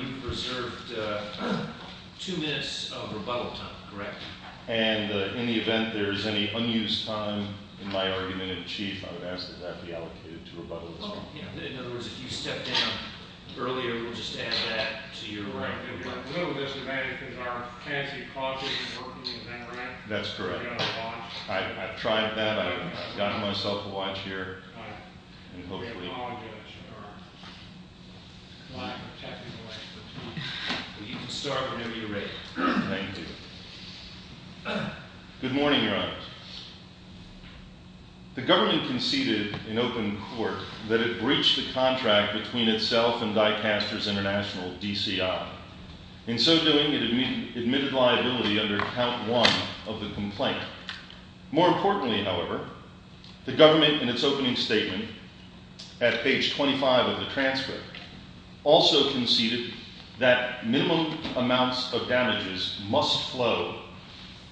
You've reserved two minutes of rebuttal time, correct? And in the event there is any unused time in my argument in chief, I would ask that that be allocated to rebuttals. In other words, if you step down earlier, we'll just add that to your rebuttal. No, Mr. Mannington, there are fancy causes in working in the government. That's correct. I've tried that. I've gotten myself a watch here. We apologize for our lack of technical expertise. You can start whenever you're ready. Thank you. Good morning, Your Honors. The government conceded in open court that it breached the contract between itself and Die Casters International, DCI. In so doing, it admitted liability under count one of the complaint. More importantly, however, the government, in its opening statement at page 25 of the transfer, also conceded that minimum amounts of damages must flow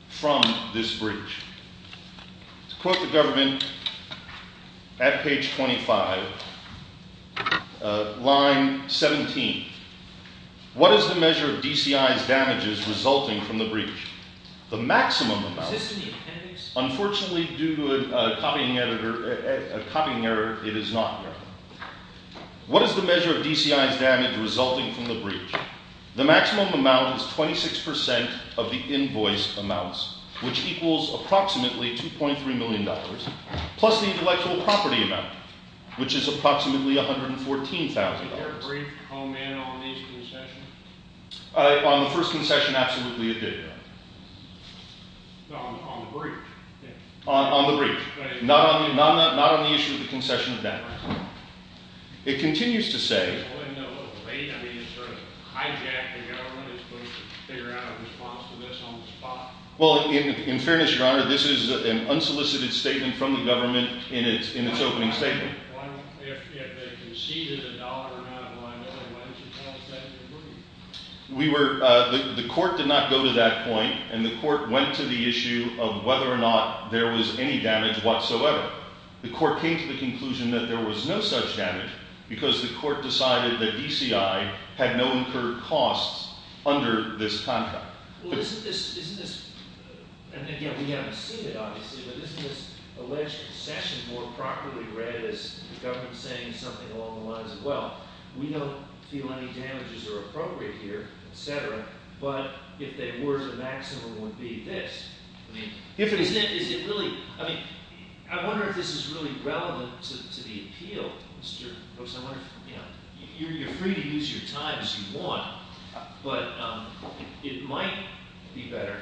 from this breach. To quote the government at page 25, line 17, What is the measure of DCI's damages resulting from the breach? The maximum amount— Is this in the appendix? Unfortunately, due to a copying error, it is not there. What is the measure of DCI's damage resulting from the breach? The maximum amount is 26 percent of the invoice amounts, which equals approximately $2.3 million, plus the intellectual property amount, which is approximately $114,000. Was there a brief comment on these concessions? On the first concession, absolutely it did. On the breach? On the breach. Not on the issue of the concession of damages. It continues to say— Well, isn't that a little late? I mean, it sort of hijacked the government. It's supposed to figure out a response to this on the spot. Well, in fairness, Your Honor, this is an unsolicited statement from the government in its opening statement. If they conceded $1 or not, why not another $1 to compensate the breach? We were—the court did not go to that point, and the court went to the issue of whether or not there was any damage whatsoever. The court came to the conclusion that there was no such damage because the court decided that DCI had no incurred costs under this contract. Well, isn't this—isn't this—and again, we haven't seen it, obviously, but isn't this alleged concession more properly read as the government saying something along the lines of, well, we don't feel any damages are appropriate here, et cetera, but if they were, the maximum would be this. I mean, isn't it—is it really—I mean, I wonder if this is really relevant to the appeal. Mr. Brooks, I wonder if—you know, you're free to use your time as you want, but it might be better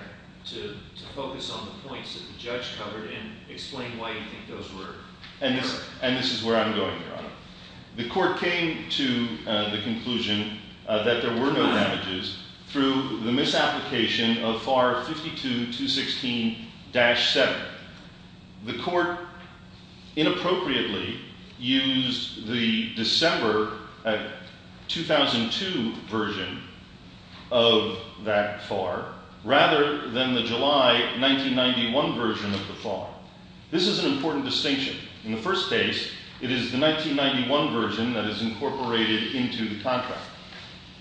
to focus on the points that the judge covered and explain why you think those were— And this—and this is where I'm going, Your Honor. The court came to the conclusion that there were no damages through the misapplication of FAR 52-216-7. The court inappropriately used the December 2002 version of that FAR rather than the July 1991 version of the FAR. This is an important distinction. In the first case, it is the 1991 version that is incorporated into the contract.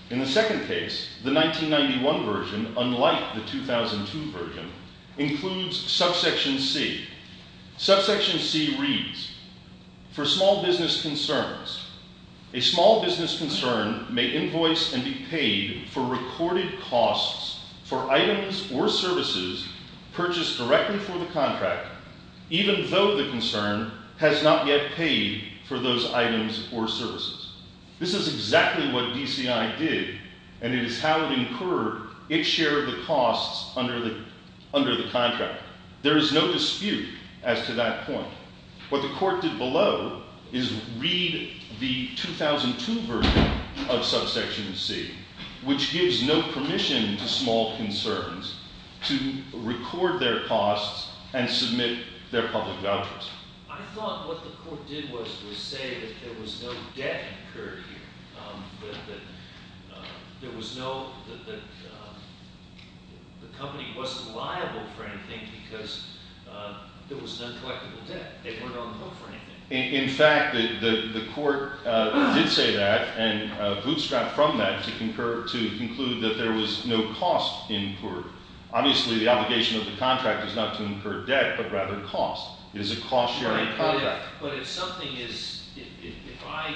In the second case, the 1991 version, unlike the 2002 version, includes subsection C. Subsection C reads, for small business concerns, a small business concern may invoice and be paid for recorded costs for items or services purchased directly for the contract, even though the concern has not yet paid for those items or services. This is exactly what DCI did, and it is how it incurred its share of the costs under the contract. There is no dispute as to that point. What the court did below is read the 2002 version of subsection C, which gives no permission to small concerns to record their costs and submit their public vouchers. I thought what the court did was to say that there was no debt incurred here, that the company wasn't liable for anything because there was an uncollectible debt. They weren't on the hook for anything. In fact, the court did say that and bootstrapped from that to conclude that there was no cost incurred. Obviously, the obligation of the contract is not to incur debt but rather cost. It is a cost-sharing contract. But if something is – if I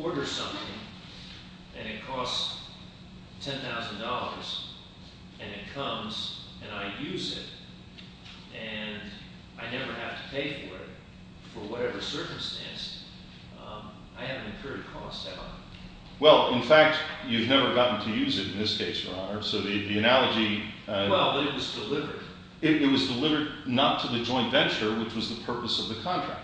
order something and it costs $10,000 and it comes and I use it and I never have to pay for it for whatever circumstance, I haven't incurred costs, have I? Well, in fact, you've never gotten to use it in this case, Your Honor, so the analogy – Well, but it was delivered. It was delivered not to the joint venture, which was the purpose of the contract.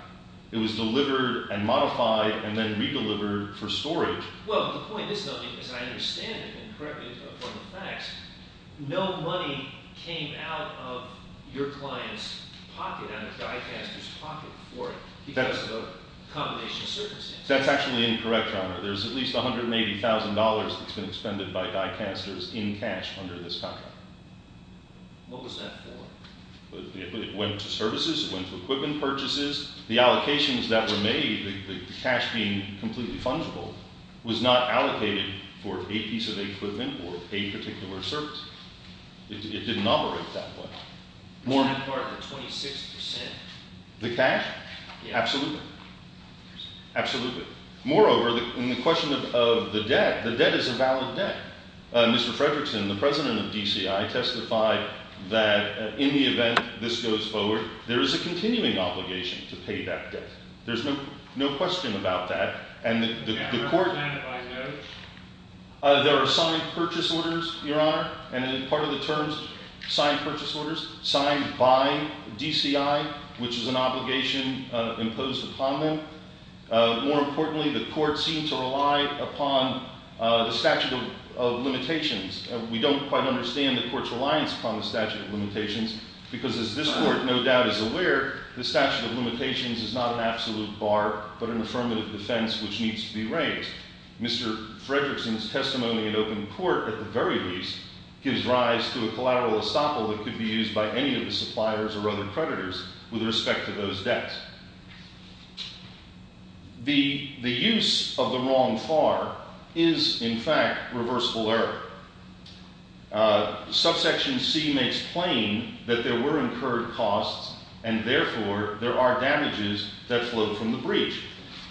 It was delivered and modified and then re-delivered for storage. Well, the point is, though, as I understand it, and correct me if I'm wrong with the facts, no money came out of your client's pocket out of Dicaster's pocket for it because of a combination of circumstances. That's actually incorrect, Your Honor. There's at least $180,000 that's been expended by Dicaster's in cash under this contract. What was that for? It went to services. It went to equipment purchases. The allocations that were made, the cash being completely fungible, was not allocated for a piece of equipment or a particular service. It didn't operate that way. It's not part of the 26 percent. The cash? Absolutely. Absolutely. Moreover, in the question of the debt, the debt is a valid debt. Mr. Frederickson, the president of DCI, testified that in the event this goes forward, there is a continuing obligation to pay that debt. There's no question about that. And the court— Is there a mandate by the judge? There are signed purchase orders, Your Honor, and part of the terms, signed purchase orders, signed by DCI, which is an obligation imposed upon them. More importantly, the court seemed to rely upon the statute of limitations. We don't quite understand the court's reliance upon the statute of limitations because, as this court no doubt is aware, the statute of limitations is not an absolute bar but an affirmative defense which needs to be raised. Mr. Frederickson's testimony in open court, at the very least, gives rise to a collateral estoppel that could be used by any of the suppliers or other creditors with respect to those debts. The use of the wrong FAR is, in fact, reversible error. Subsection C makes plain that there were incurred costs and, therefore, there are damages that flowed from the breach.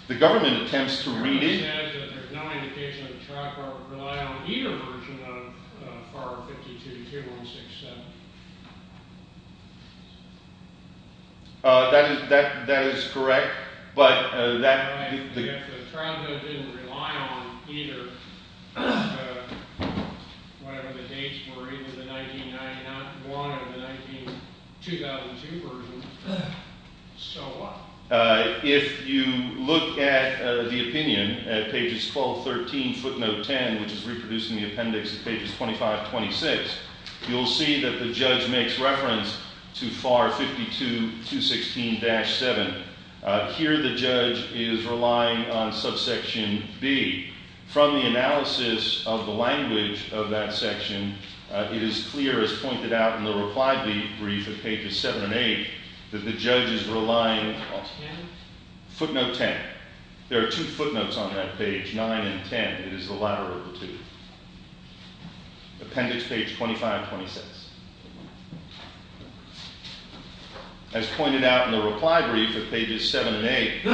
The government attempts to read it— Your Honor, it says that there's not an indication of a trap or a reliance on either version of FAR 52-2167. That is correct, but that— The trial didn't rely on either, whatever the dates were, either the 1991 or the 2002 version, so what? If you look at the opinion at pages 12-13, footnote 10, which is reproduced in the appendix at pages 25-26, you'll see that the judge makes reference to FAR 52-216-7. Here the judge is relying on subsection B. From the analysis of the language of that section, it is clear, as pointed out in the reply brief at pages 7 and 8, that the judge is relying on footnote 10. There are two footnotes on that page, 9 and 10. It is the latter of the two, appendix page 25-26. As pointed out in the reply brief at pages 7 and 8,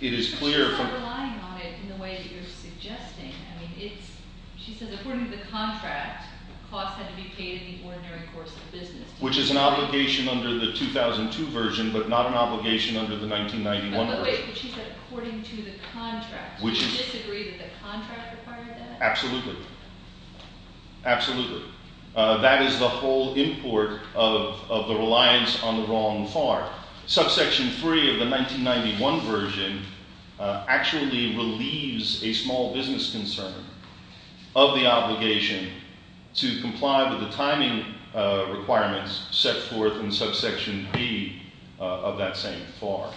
it is clear— But she's not relying on it in the way that you're suggesting. I mean, it's—she says, according to the contract, costs had to be paid in the ordinary course of business. Which is an obligation under the 2002 version, but not an obligation under the 1991 version. But wait, she said, according to the contract. Would you disagree that the contract required that? Absolutely. Absolutely. That is the whole import of the reliance on the wrong FAR. Subsection 3 of the 1991 version actually relieves a small business concern of the obligation to comply with the timing requirements set forth in subsection B of that same FAR.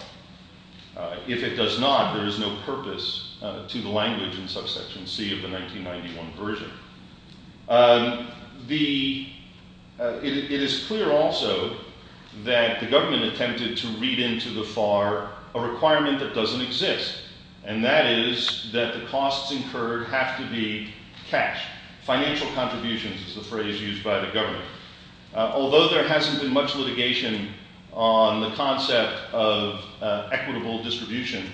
If it does not, there is no purpose to the language in subsection C of the 1991 version. It is clear also that the government attempted to read into the FAR a requirement that doesn't exist. And that is that the costs incurred have to be cash. Financial contributions is the phrase used by the government. Although there hasn't been much litigation on the concept of equitable distribution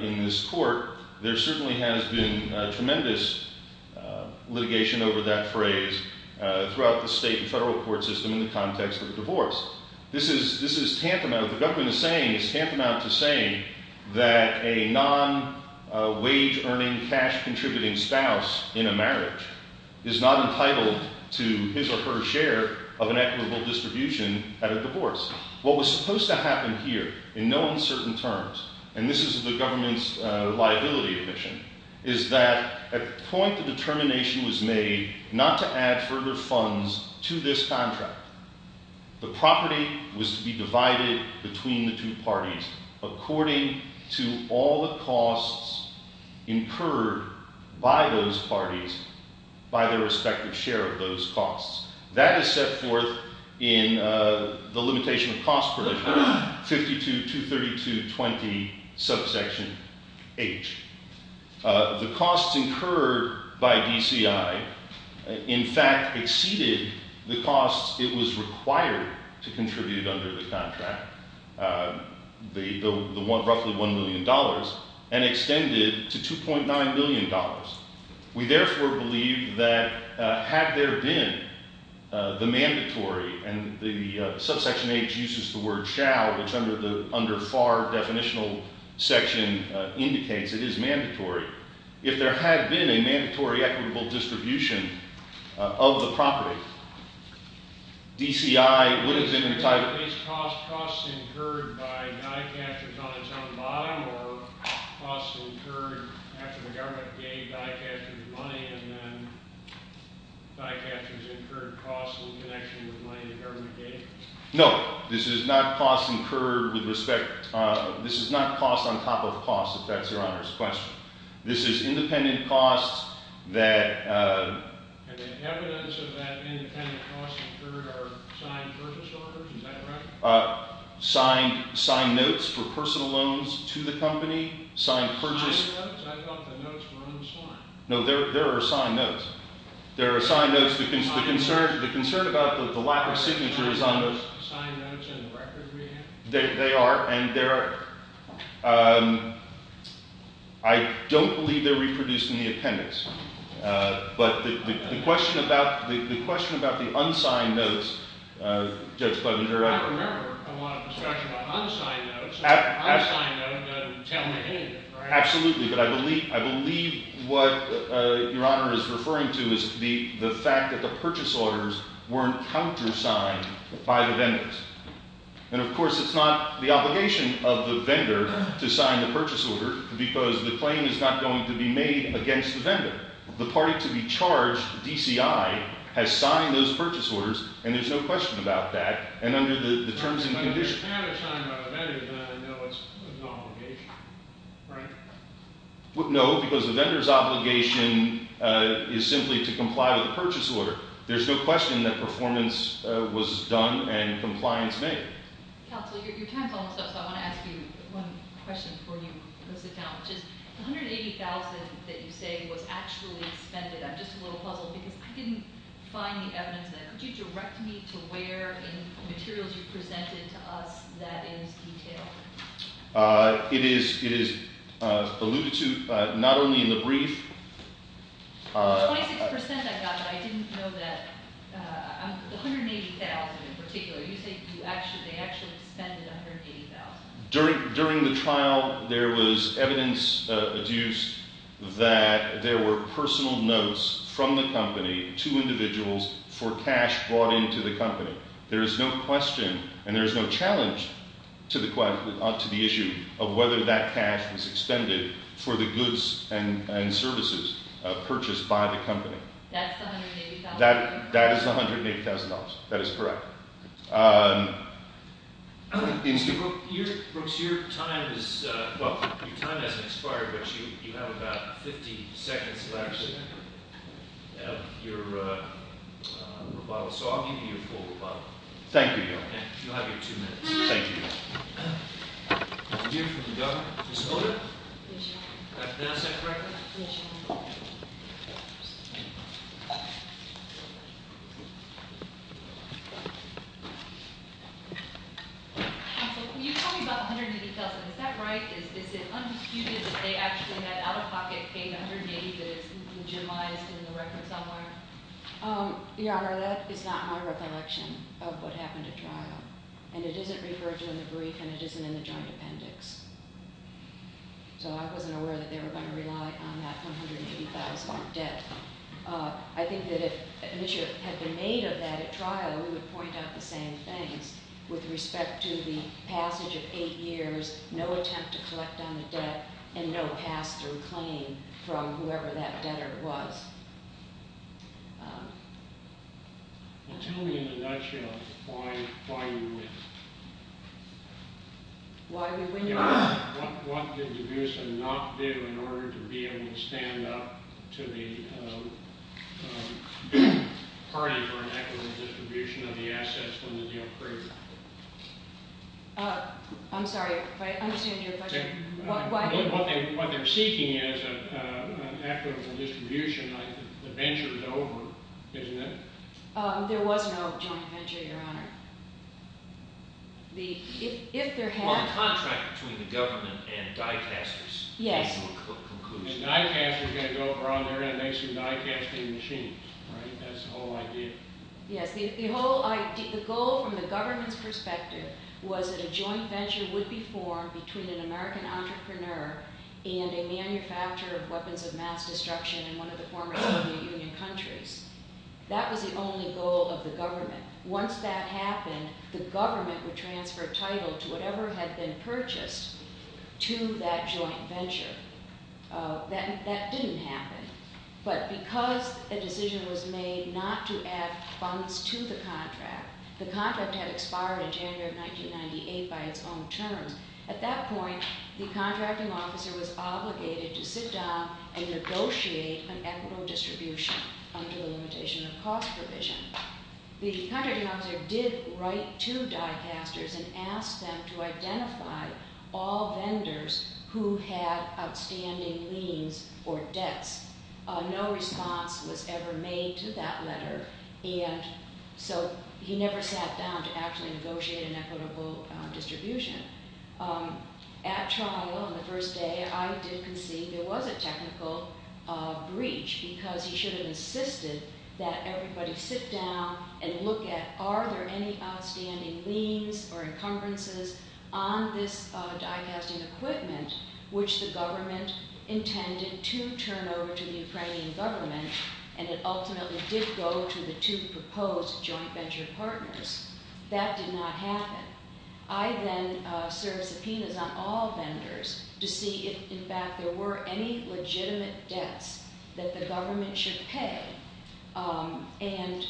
in this court, there certainly has been tremendous litigation over that phrase throughout the state and federal court system in the context of divorce. This is tantamount, what the government is saying is tantamount to saying that a non-wage-earning, cash-contributing spouse in a marriage is not entitled to his or her share of an equitable distribution at a divorce. What was supposed to happen here, in no uncertain terms, and this is the government's liability admission, is that at the point the determination was made not to add further funds to this contract. The property was to be divided between the two parties according to all the costs incurred by those parties by their respective share of those costs. That is set forth in the limitation of cost for 52-232-20 subsection H. The costs incurred by DCI, in fact, exceeded the costs it was required to contribute under the contract, roughly $1 million, and extended to $2.9 million. We therefore believe that had there been the mandatory, and the subsection H uses the word shall, which under the FAR definitional section indicates it is mandatory. If there had been a mandatory equitable distribution of the property, DCI would have been entitled- Now, is cost incurred by die-catchers on its own body, or costs incurred after the government gave die-catchers money, and then die-catchers incurred costs in connection with money the government gave? No, this is not cost incurred with respect- this is not cost on top of cost, if that's Your Honor's question. This is independent costs that- And the evidence of that independent cost incurred are signed purchase orders, is that correct? Signed notes for personal loans to the company, signed purchase- Signed notes? I thought the notes were on the slide. No, there are signed notes. There are signed notes- Signed notes? The concern about the lack of signature is on the- Are those signed notes in the record we have? They are, and they're- I don't believe they're reproduced in the appendix. But the question about the unsigned notes, Judge Plevenger- I remember, I want a discussion about unsigned notes. Unsigned notes don't tell me anything, right? Absolutely, but I believe what Your Honor is referring to is the fact that the purchase orders weren't countersigned by the vendors. And, of course, it's not the obligation of the vendor to sign the purchase order, because the claim is not going to be made against the vendor. The party to be charged, DCI, has signed those purchase orders, and there's no question about that, and under the terms and conditions- If it's countersigned by the vendor, then I know it's an obligation, right? No, because the vendor's obligation is simply to comply with the purchase order. There's no question that performance was done and compliance made. Counsel, your time's almost up, so I want to ask you one question before you close the count, which is- The $180,000 that you say was actually expended, I'm just a little puzzled because I didn't find the evidence. Could you direct me to where in the materials you presented to us that is detailed? It is alluded to, not only in the brief- The 26% I got, I didn't know that- $180,000 in particular. You say they actually expended $180,000. During the trial, there was evidence adduced that there were personal notes from the company to individuals for cash brought into the company. There is no question and there is no challenge to the issue of whether that cash was expended for the goods and services purchased by the company. That's the $180,000? That is the $180,000. That is correct. Mr. Brooks, your time hasn't expired, but you have about 50 seconds left of your rebuttal, so I'll give you your full rebuttal. Thank you, Your Honor. You'll have your two minutes. Thank you, Your Honor. Mr. Deere from the government, Ms. Holder? Yes, Your Honor. Did I say that correctly? Yes, Your Honor. Counsel, when you're talking about $180,000, is that right? Is it undisputed that they actually had out-of-pocket pay, $180,000, that has been generalized in the record somewhere? Your Honor, that is not my recollection of what happened at trial, and it isn't referred to in the brief and it isn't in the joint appendix. So I wasn't aware that they were going to rely on that $180,000 debt. I think that if an issue had been made of that at trial, we would point out the same things with respect to the passage of 8 years, no attempt to collect on the debt, and no pass-through claim from whoever that debtor was. Well, tell me in a nutshell why you win. Why we win your case? What did DeBusa not do in order to be able to stand up to the party for an equitable distribution of the assets from the Neil Crager? I'm sorry, if I understand your question. What they're seeking is an equitable distribution. The venture is over, isn't it? There was no joint venture, Your Honor. Well, the contract between the government and die-casters is your conclusion. A die-caster is going to go around there and make some die-casting machines, right? That's the whole idea. Yes, the goal from the government's perspective was that a joint venture would be formed between an American entrepreneur and a manufacturer of weapons of mass destruction in one of the former Soviet Union countries. That was the only goal of the government. Once that happened, the government would transfer title to whatever had been purchased to that joint venture. That didn't happen, but because a decision was made not to add funds to the contract, the contract had expired in January of 1998 by its own terms. At that point, the contracting officer was obligated to sit down and negotiate an equitable distribution under the limitation of cost provision. The contracting officer did write to die-casters and asked them to identify all vendors who had outstanding liens or debts. No response was ever made to that letter, and so he never sat down to actually negotiate an equitable distribution. At trial on the first day, I did concede there was a technical breach because he should have insisted that everybody sit down and look at, are there any outstanding liens or encumbrances on this die-casting equipment, which the government intended to turn over to the Ukrainian government, and it ultimately did go to the two proposed joint venture partners. That did not happen. I then served subpoenas on all vendors to see if, in fact, there were any legitimate debts that the government should pay, and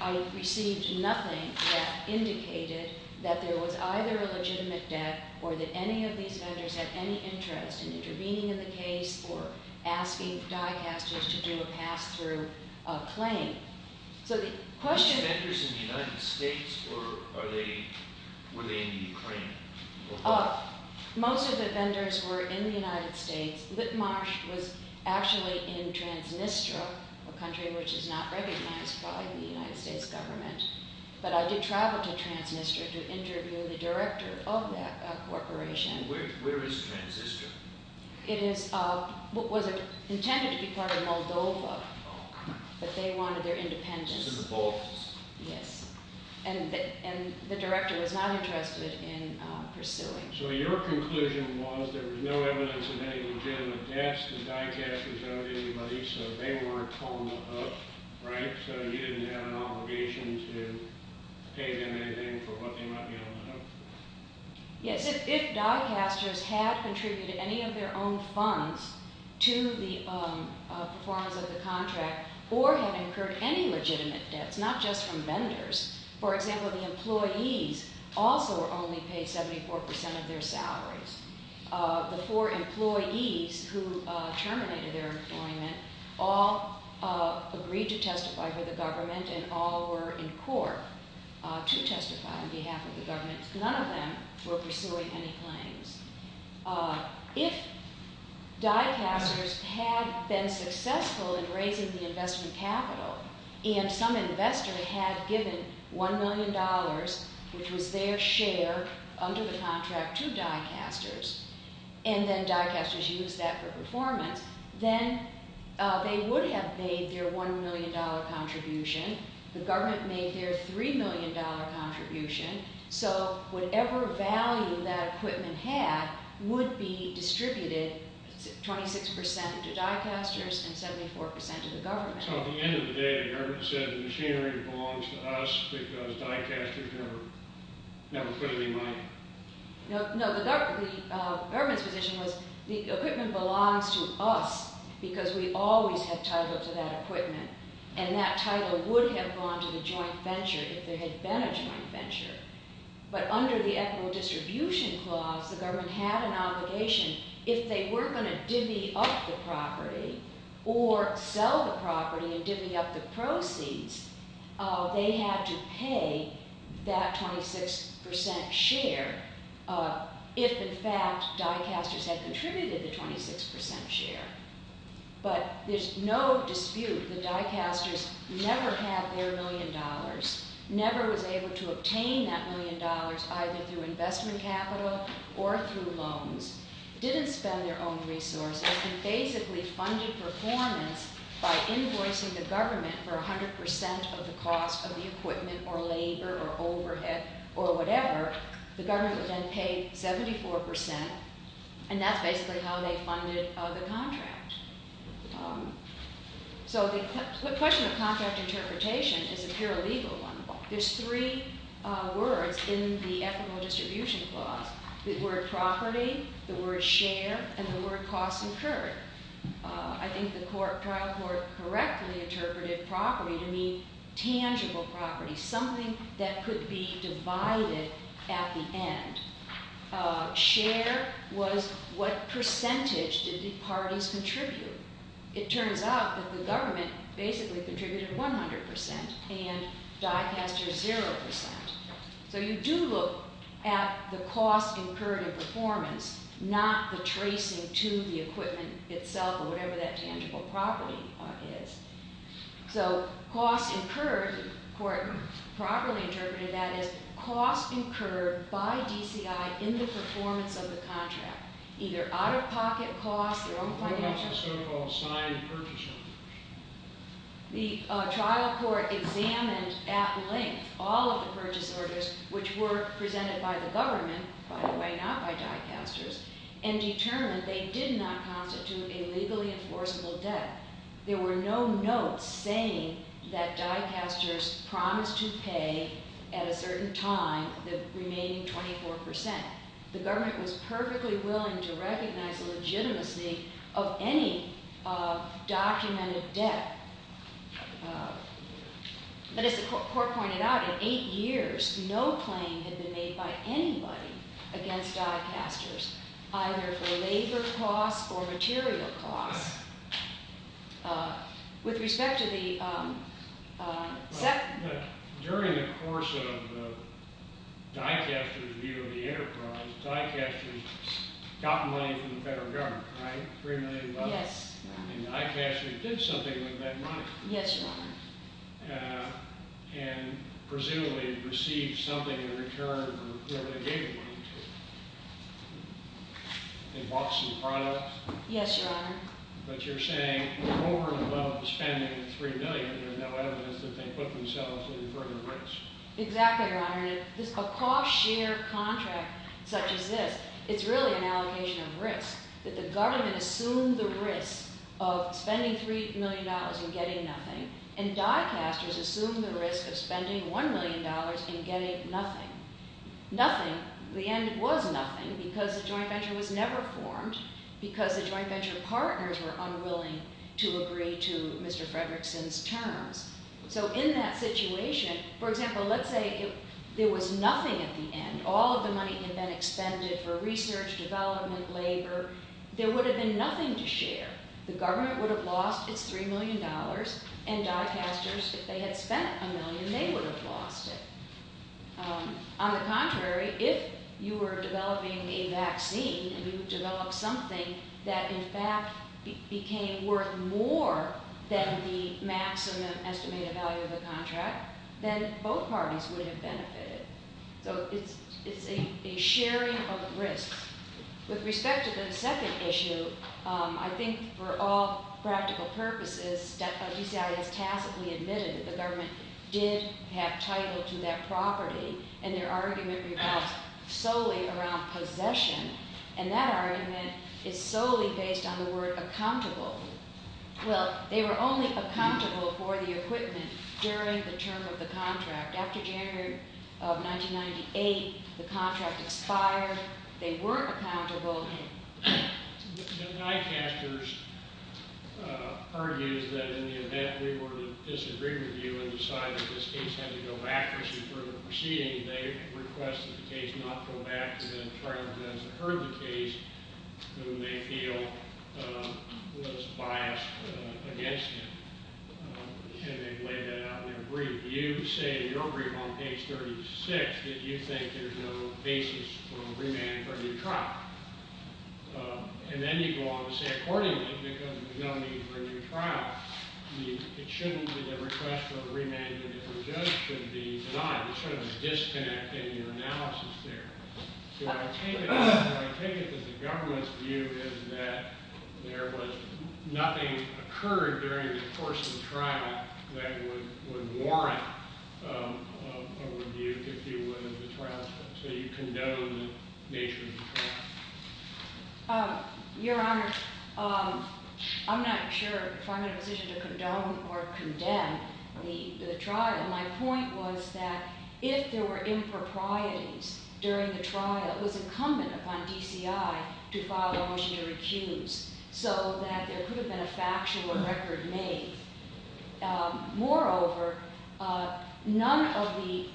I received nothing that indicated that there was either a legitimate debt or that any of these vendors had any interest in intervening in the case or asking die-casters to do a pass-through claim. Were these vendors in the United States or were they in the Ukraine? Most of the vendors were in the United States. Litmarsh was actually in Transnistria, a country which is not recognized by the United States government, but I did travel to Transnistria to interview the director of that corporation. Where is Transnistria? It was intended to be part of Moldova, but they wanted their independence. And the director was not interested in pursuing. So your conclusion was there was no evidence of any legitimate debts the die-casters owed anybody, so they weren't calling them up, right? So you didn't have an obligation to pay them anything for what they might be on the hook for? Yes, if die-casters had contributed any of their own funds to the performance of the contract or had incurred any legitimate debts, not just from vendors. For example, the employees also were only paid 74% of their salaries. The four employees who terminated their employment all agreed to testify for the government and all were in court to testify on behalf of the government. None of them were pursuing any claims. If die-casters had been successful in raising the investment capital and some investor had given $1 million, which was their share, under the contract to die-casters and then die-casters used that for performance, then they would have made their $1 million contribution. The government made their $3 million contribution. So whatever value that equipment had would be distributed 26% to die-casters and 74% to the government. So at the end of the day, the government said the machinery belongs to us because die-casters never put any money? No, the government's position was the equipment belongs to us because we always had title to that equipment and that title would have gone to the joint venture if there had been a joint venture. But under the Equitable Distribution Clause, the government had an obligation. If they were going to divvy up the property or sell the property and divvy up the proceeds, they had to pay that 26% share if, in fact, die-casters had contributed the 26% share. But there's no dispute that die-casters never had their $1 million, never was able to obtain that $1 million either through investment capital or through loans, didn't spend their own resources and basically funded performance by invoicing the government for 100% of the cost of the equipment or labor or overhead or whatever. The government would then pay 74% and that's basically how they funded the contract. So the question of contract interpretation is a pure legal one. There's three words in the Equitable Distribution Clause, the word property, the word share, and the word cost incurred. I think the trial court correctly interpreted property to mean tangible property, something that could be divided at the end. Share was what percentage did the parties contribute. It turns out that the government basically contributed 100% and die-casters 0%. So you do look at the cost incurred in performance, not the tracing to the equipment itself or whatever that tangible property is. So cost incurred, the court properly interpreted that as cost incurred by DCI in the performance of the contract, either out-of-pocket costs, their own financial... What about the so-called signed purchase orders? The trial court examined at length all of the purchase orders which were presented by the government, by the way not by die-casters, and determined they did not constitute a legally enforceable debt. There were no notes saying that die-casters promised to pay at a certain time the remaining 24%. The government was perfectly willing to recognize the legitimacy of any documented debt. But as the court pointed out, in eight years, no claim had been made by anybody against die-casters, either for labor costs or material costs. With respect to the second... During the course of the die-caster's view of the enterprise, die-casters got money from the federal government, right? $3 million? Yes, Your Honor. And die-casters did something with that money. Yes, Your Honor. And presumably received something in return for where they gave the money to. They bought some products? Yes, Your Honor. But you're saying over and above spending $3 million, there's no evidence that they put themselves in further risk. Exactly, Your Honor. A cost-share contract such as this, it's really an allocation of risk, that the government assumed the risk of spending $3 million and getting nothing, and die-casters assumed the risk of spending $1 million and getting nothing. Nothing. The end was nothing because the joint venture was never formed, because the joint venture partners were unwilling to agree to Mr. Fredrickson's terms. So in that situation, for example, let's say there was nothing at the end. All of the money had been expended for research, development, labor. There would have been nothing to share. The government would have lost its $3 million, and die-casters, if they had spent $1 million, they would have lost it. On the contrary, if you were developing a vaccine, and you developed something that, in fact, became worth more than the maximum estimated value of the contract, then both parties would have benefited. So it's a sharing of risk. With respect to the second issue, I think for all practical purposes, DCI has tacitly admitted that the government did have title to that property, and their argument revolves solely around possession, and that argument is solely based on the word accountable. Well, they were only accountable for the equipment during the term of the contract. After January of 1998, the contract expired. They were accountable. The die-casters argue that in the event we were to disagree with you and decide that this case had to go back for further proceeding, they requested the case not go back, and then tried to get us to heard the case, whom they feel was biased against them. And they've laid that out in their brief. If you say in your brief on page 36 that you think there's no basis for a remand for a new trial, and then you go on to say accordingly because there's no need for a new trial, it shouldn't be the request for a remand that the judge should be denied. You're sort of disconnecting your analysis there. So I take it that the government's view is that there was nothing occurred during the course of the trial that would warrant a review, if you will, of the trial, so you condone the nature of the trial. Your Honor, I'm not sure if I'm in a position to condone or condemn the trial. My point was that if there were improprieties during the trial, it was incumbent upon DCI to file a motion to recuse so that there could have been a factual record made. Moreover, none of the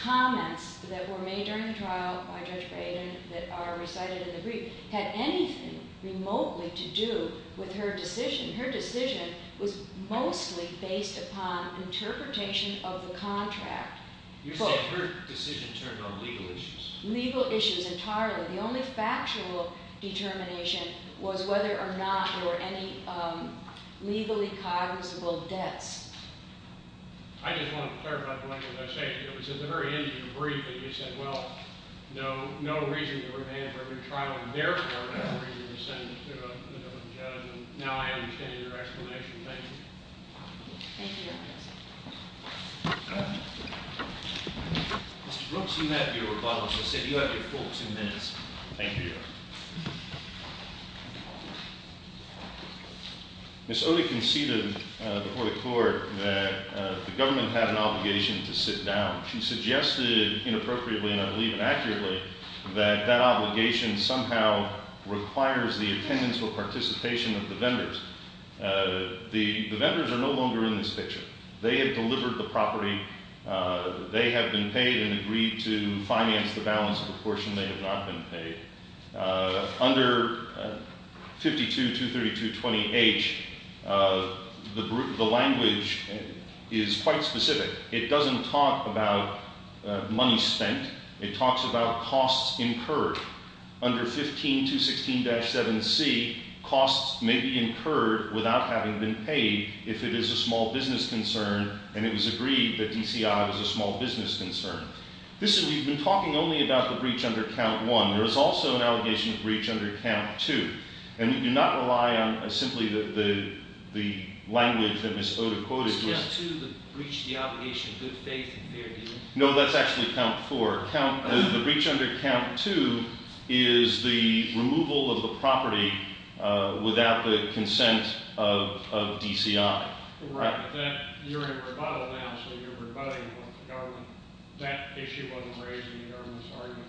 comments that were made during the trial by Judge Braden that are recited in the brief had anything remotely to do with her decision. Her decision was mostly based upon interpretation of the contract. You're saying her decision turned on legal issues? Legal issues entirely. The only factual determination was whether or not there were any legally cognizable debts. I just want to clarify the length of that statement. It was at the very end of your brief that you said, well, no reason to remand for every trial and therefore no reason to send it to a different judge. Now I understand your explanation. Thank you. Thank you, Your Honor. Mr. Brooks, you have your rebuttal. She said you have your full two minutes. Thank you, Your Honor. Ms. Oley conceded before the court that the government had an obligation to sit down. She suggested inappropriately, and I believe accurately, that that obligation somehow requires the attendance or participation of the vendors. The vendors are no longer in this picture. They have delivered the property. They have been paid and agreed to finance the balance of the portion. They have not been paid. Under 52-23220H, the language is quite specific. It doesn't talk about money spent. It talks about costs incurred. Under 15216-7C, costs may be incurred without having been paid if it is a small business concern and it was agreed that DCI was a small business concern. We've been talking only about the breach under Count 1. There is also an allegation of breach under Count 2. And we do not rely on simply the language that Ms. Oda quoted. Was Count 2 the breach of the obligation of good faith and fair dealing? No, that's actually Count 4. The breach under Count 2 is the removal of the property without the consent of DCI. Right. You're in rebuttal now, so you're rebutting the government. That issue wasn't raised in the government's argument,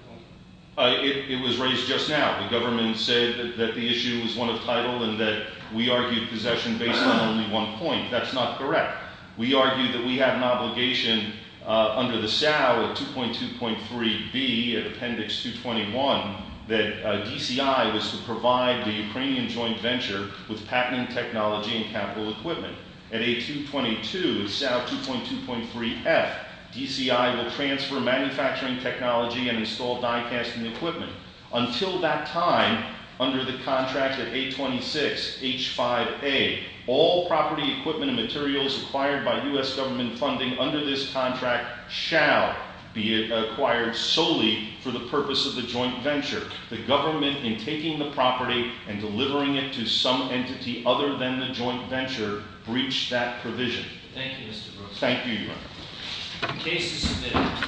was it? It was raised just now. The government said that the issue was one of title and that we argued possession based on only one point. That's not correct. We argued that we have an obligation under the SAO at 2.2.3B, Appendix 221, that DCI was to provide the Ukrainian joint venture with patenting technology and capital equipment. At A.222, SAO 2.2.3F, DCI will transfer manufacturing technology and install die casting equipment. Until that time, under the contract of A.26H5A, all property equipment and materials acquired by U.S. government funding under this contract shall be acquired solely for the purpose of the joint venture. The government, in taking the property and delivering it to some entity other than the joint venture, breached that provision. Thank you, Mr. Brooks. Thank you, Your Honor. The case is submitted.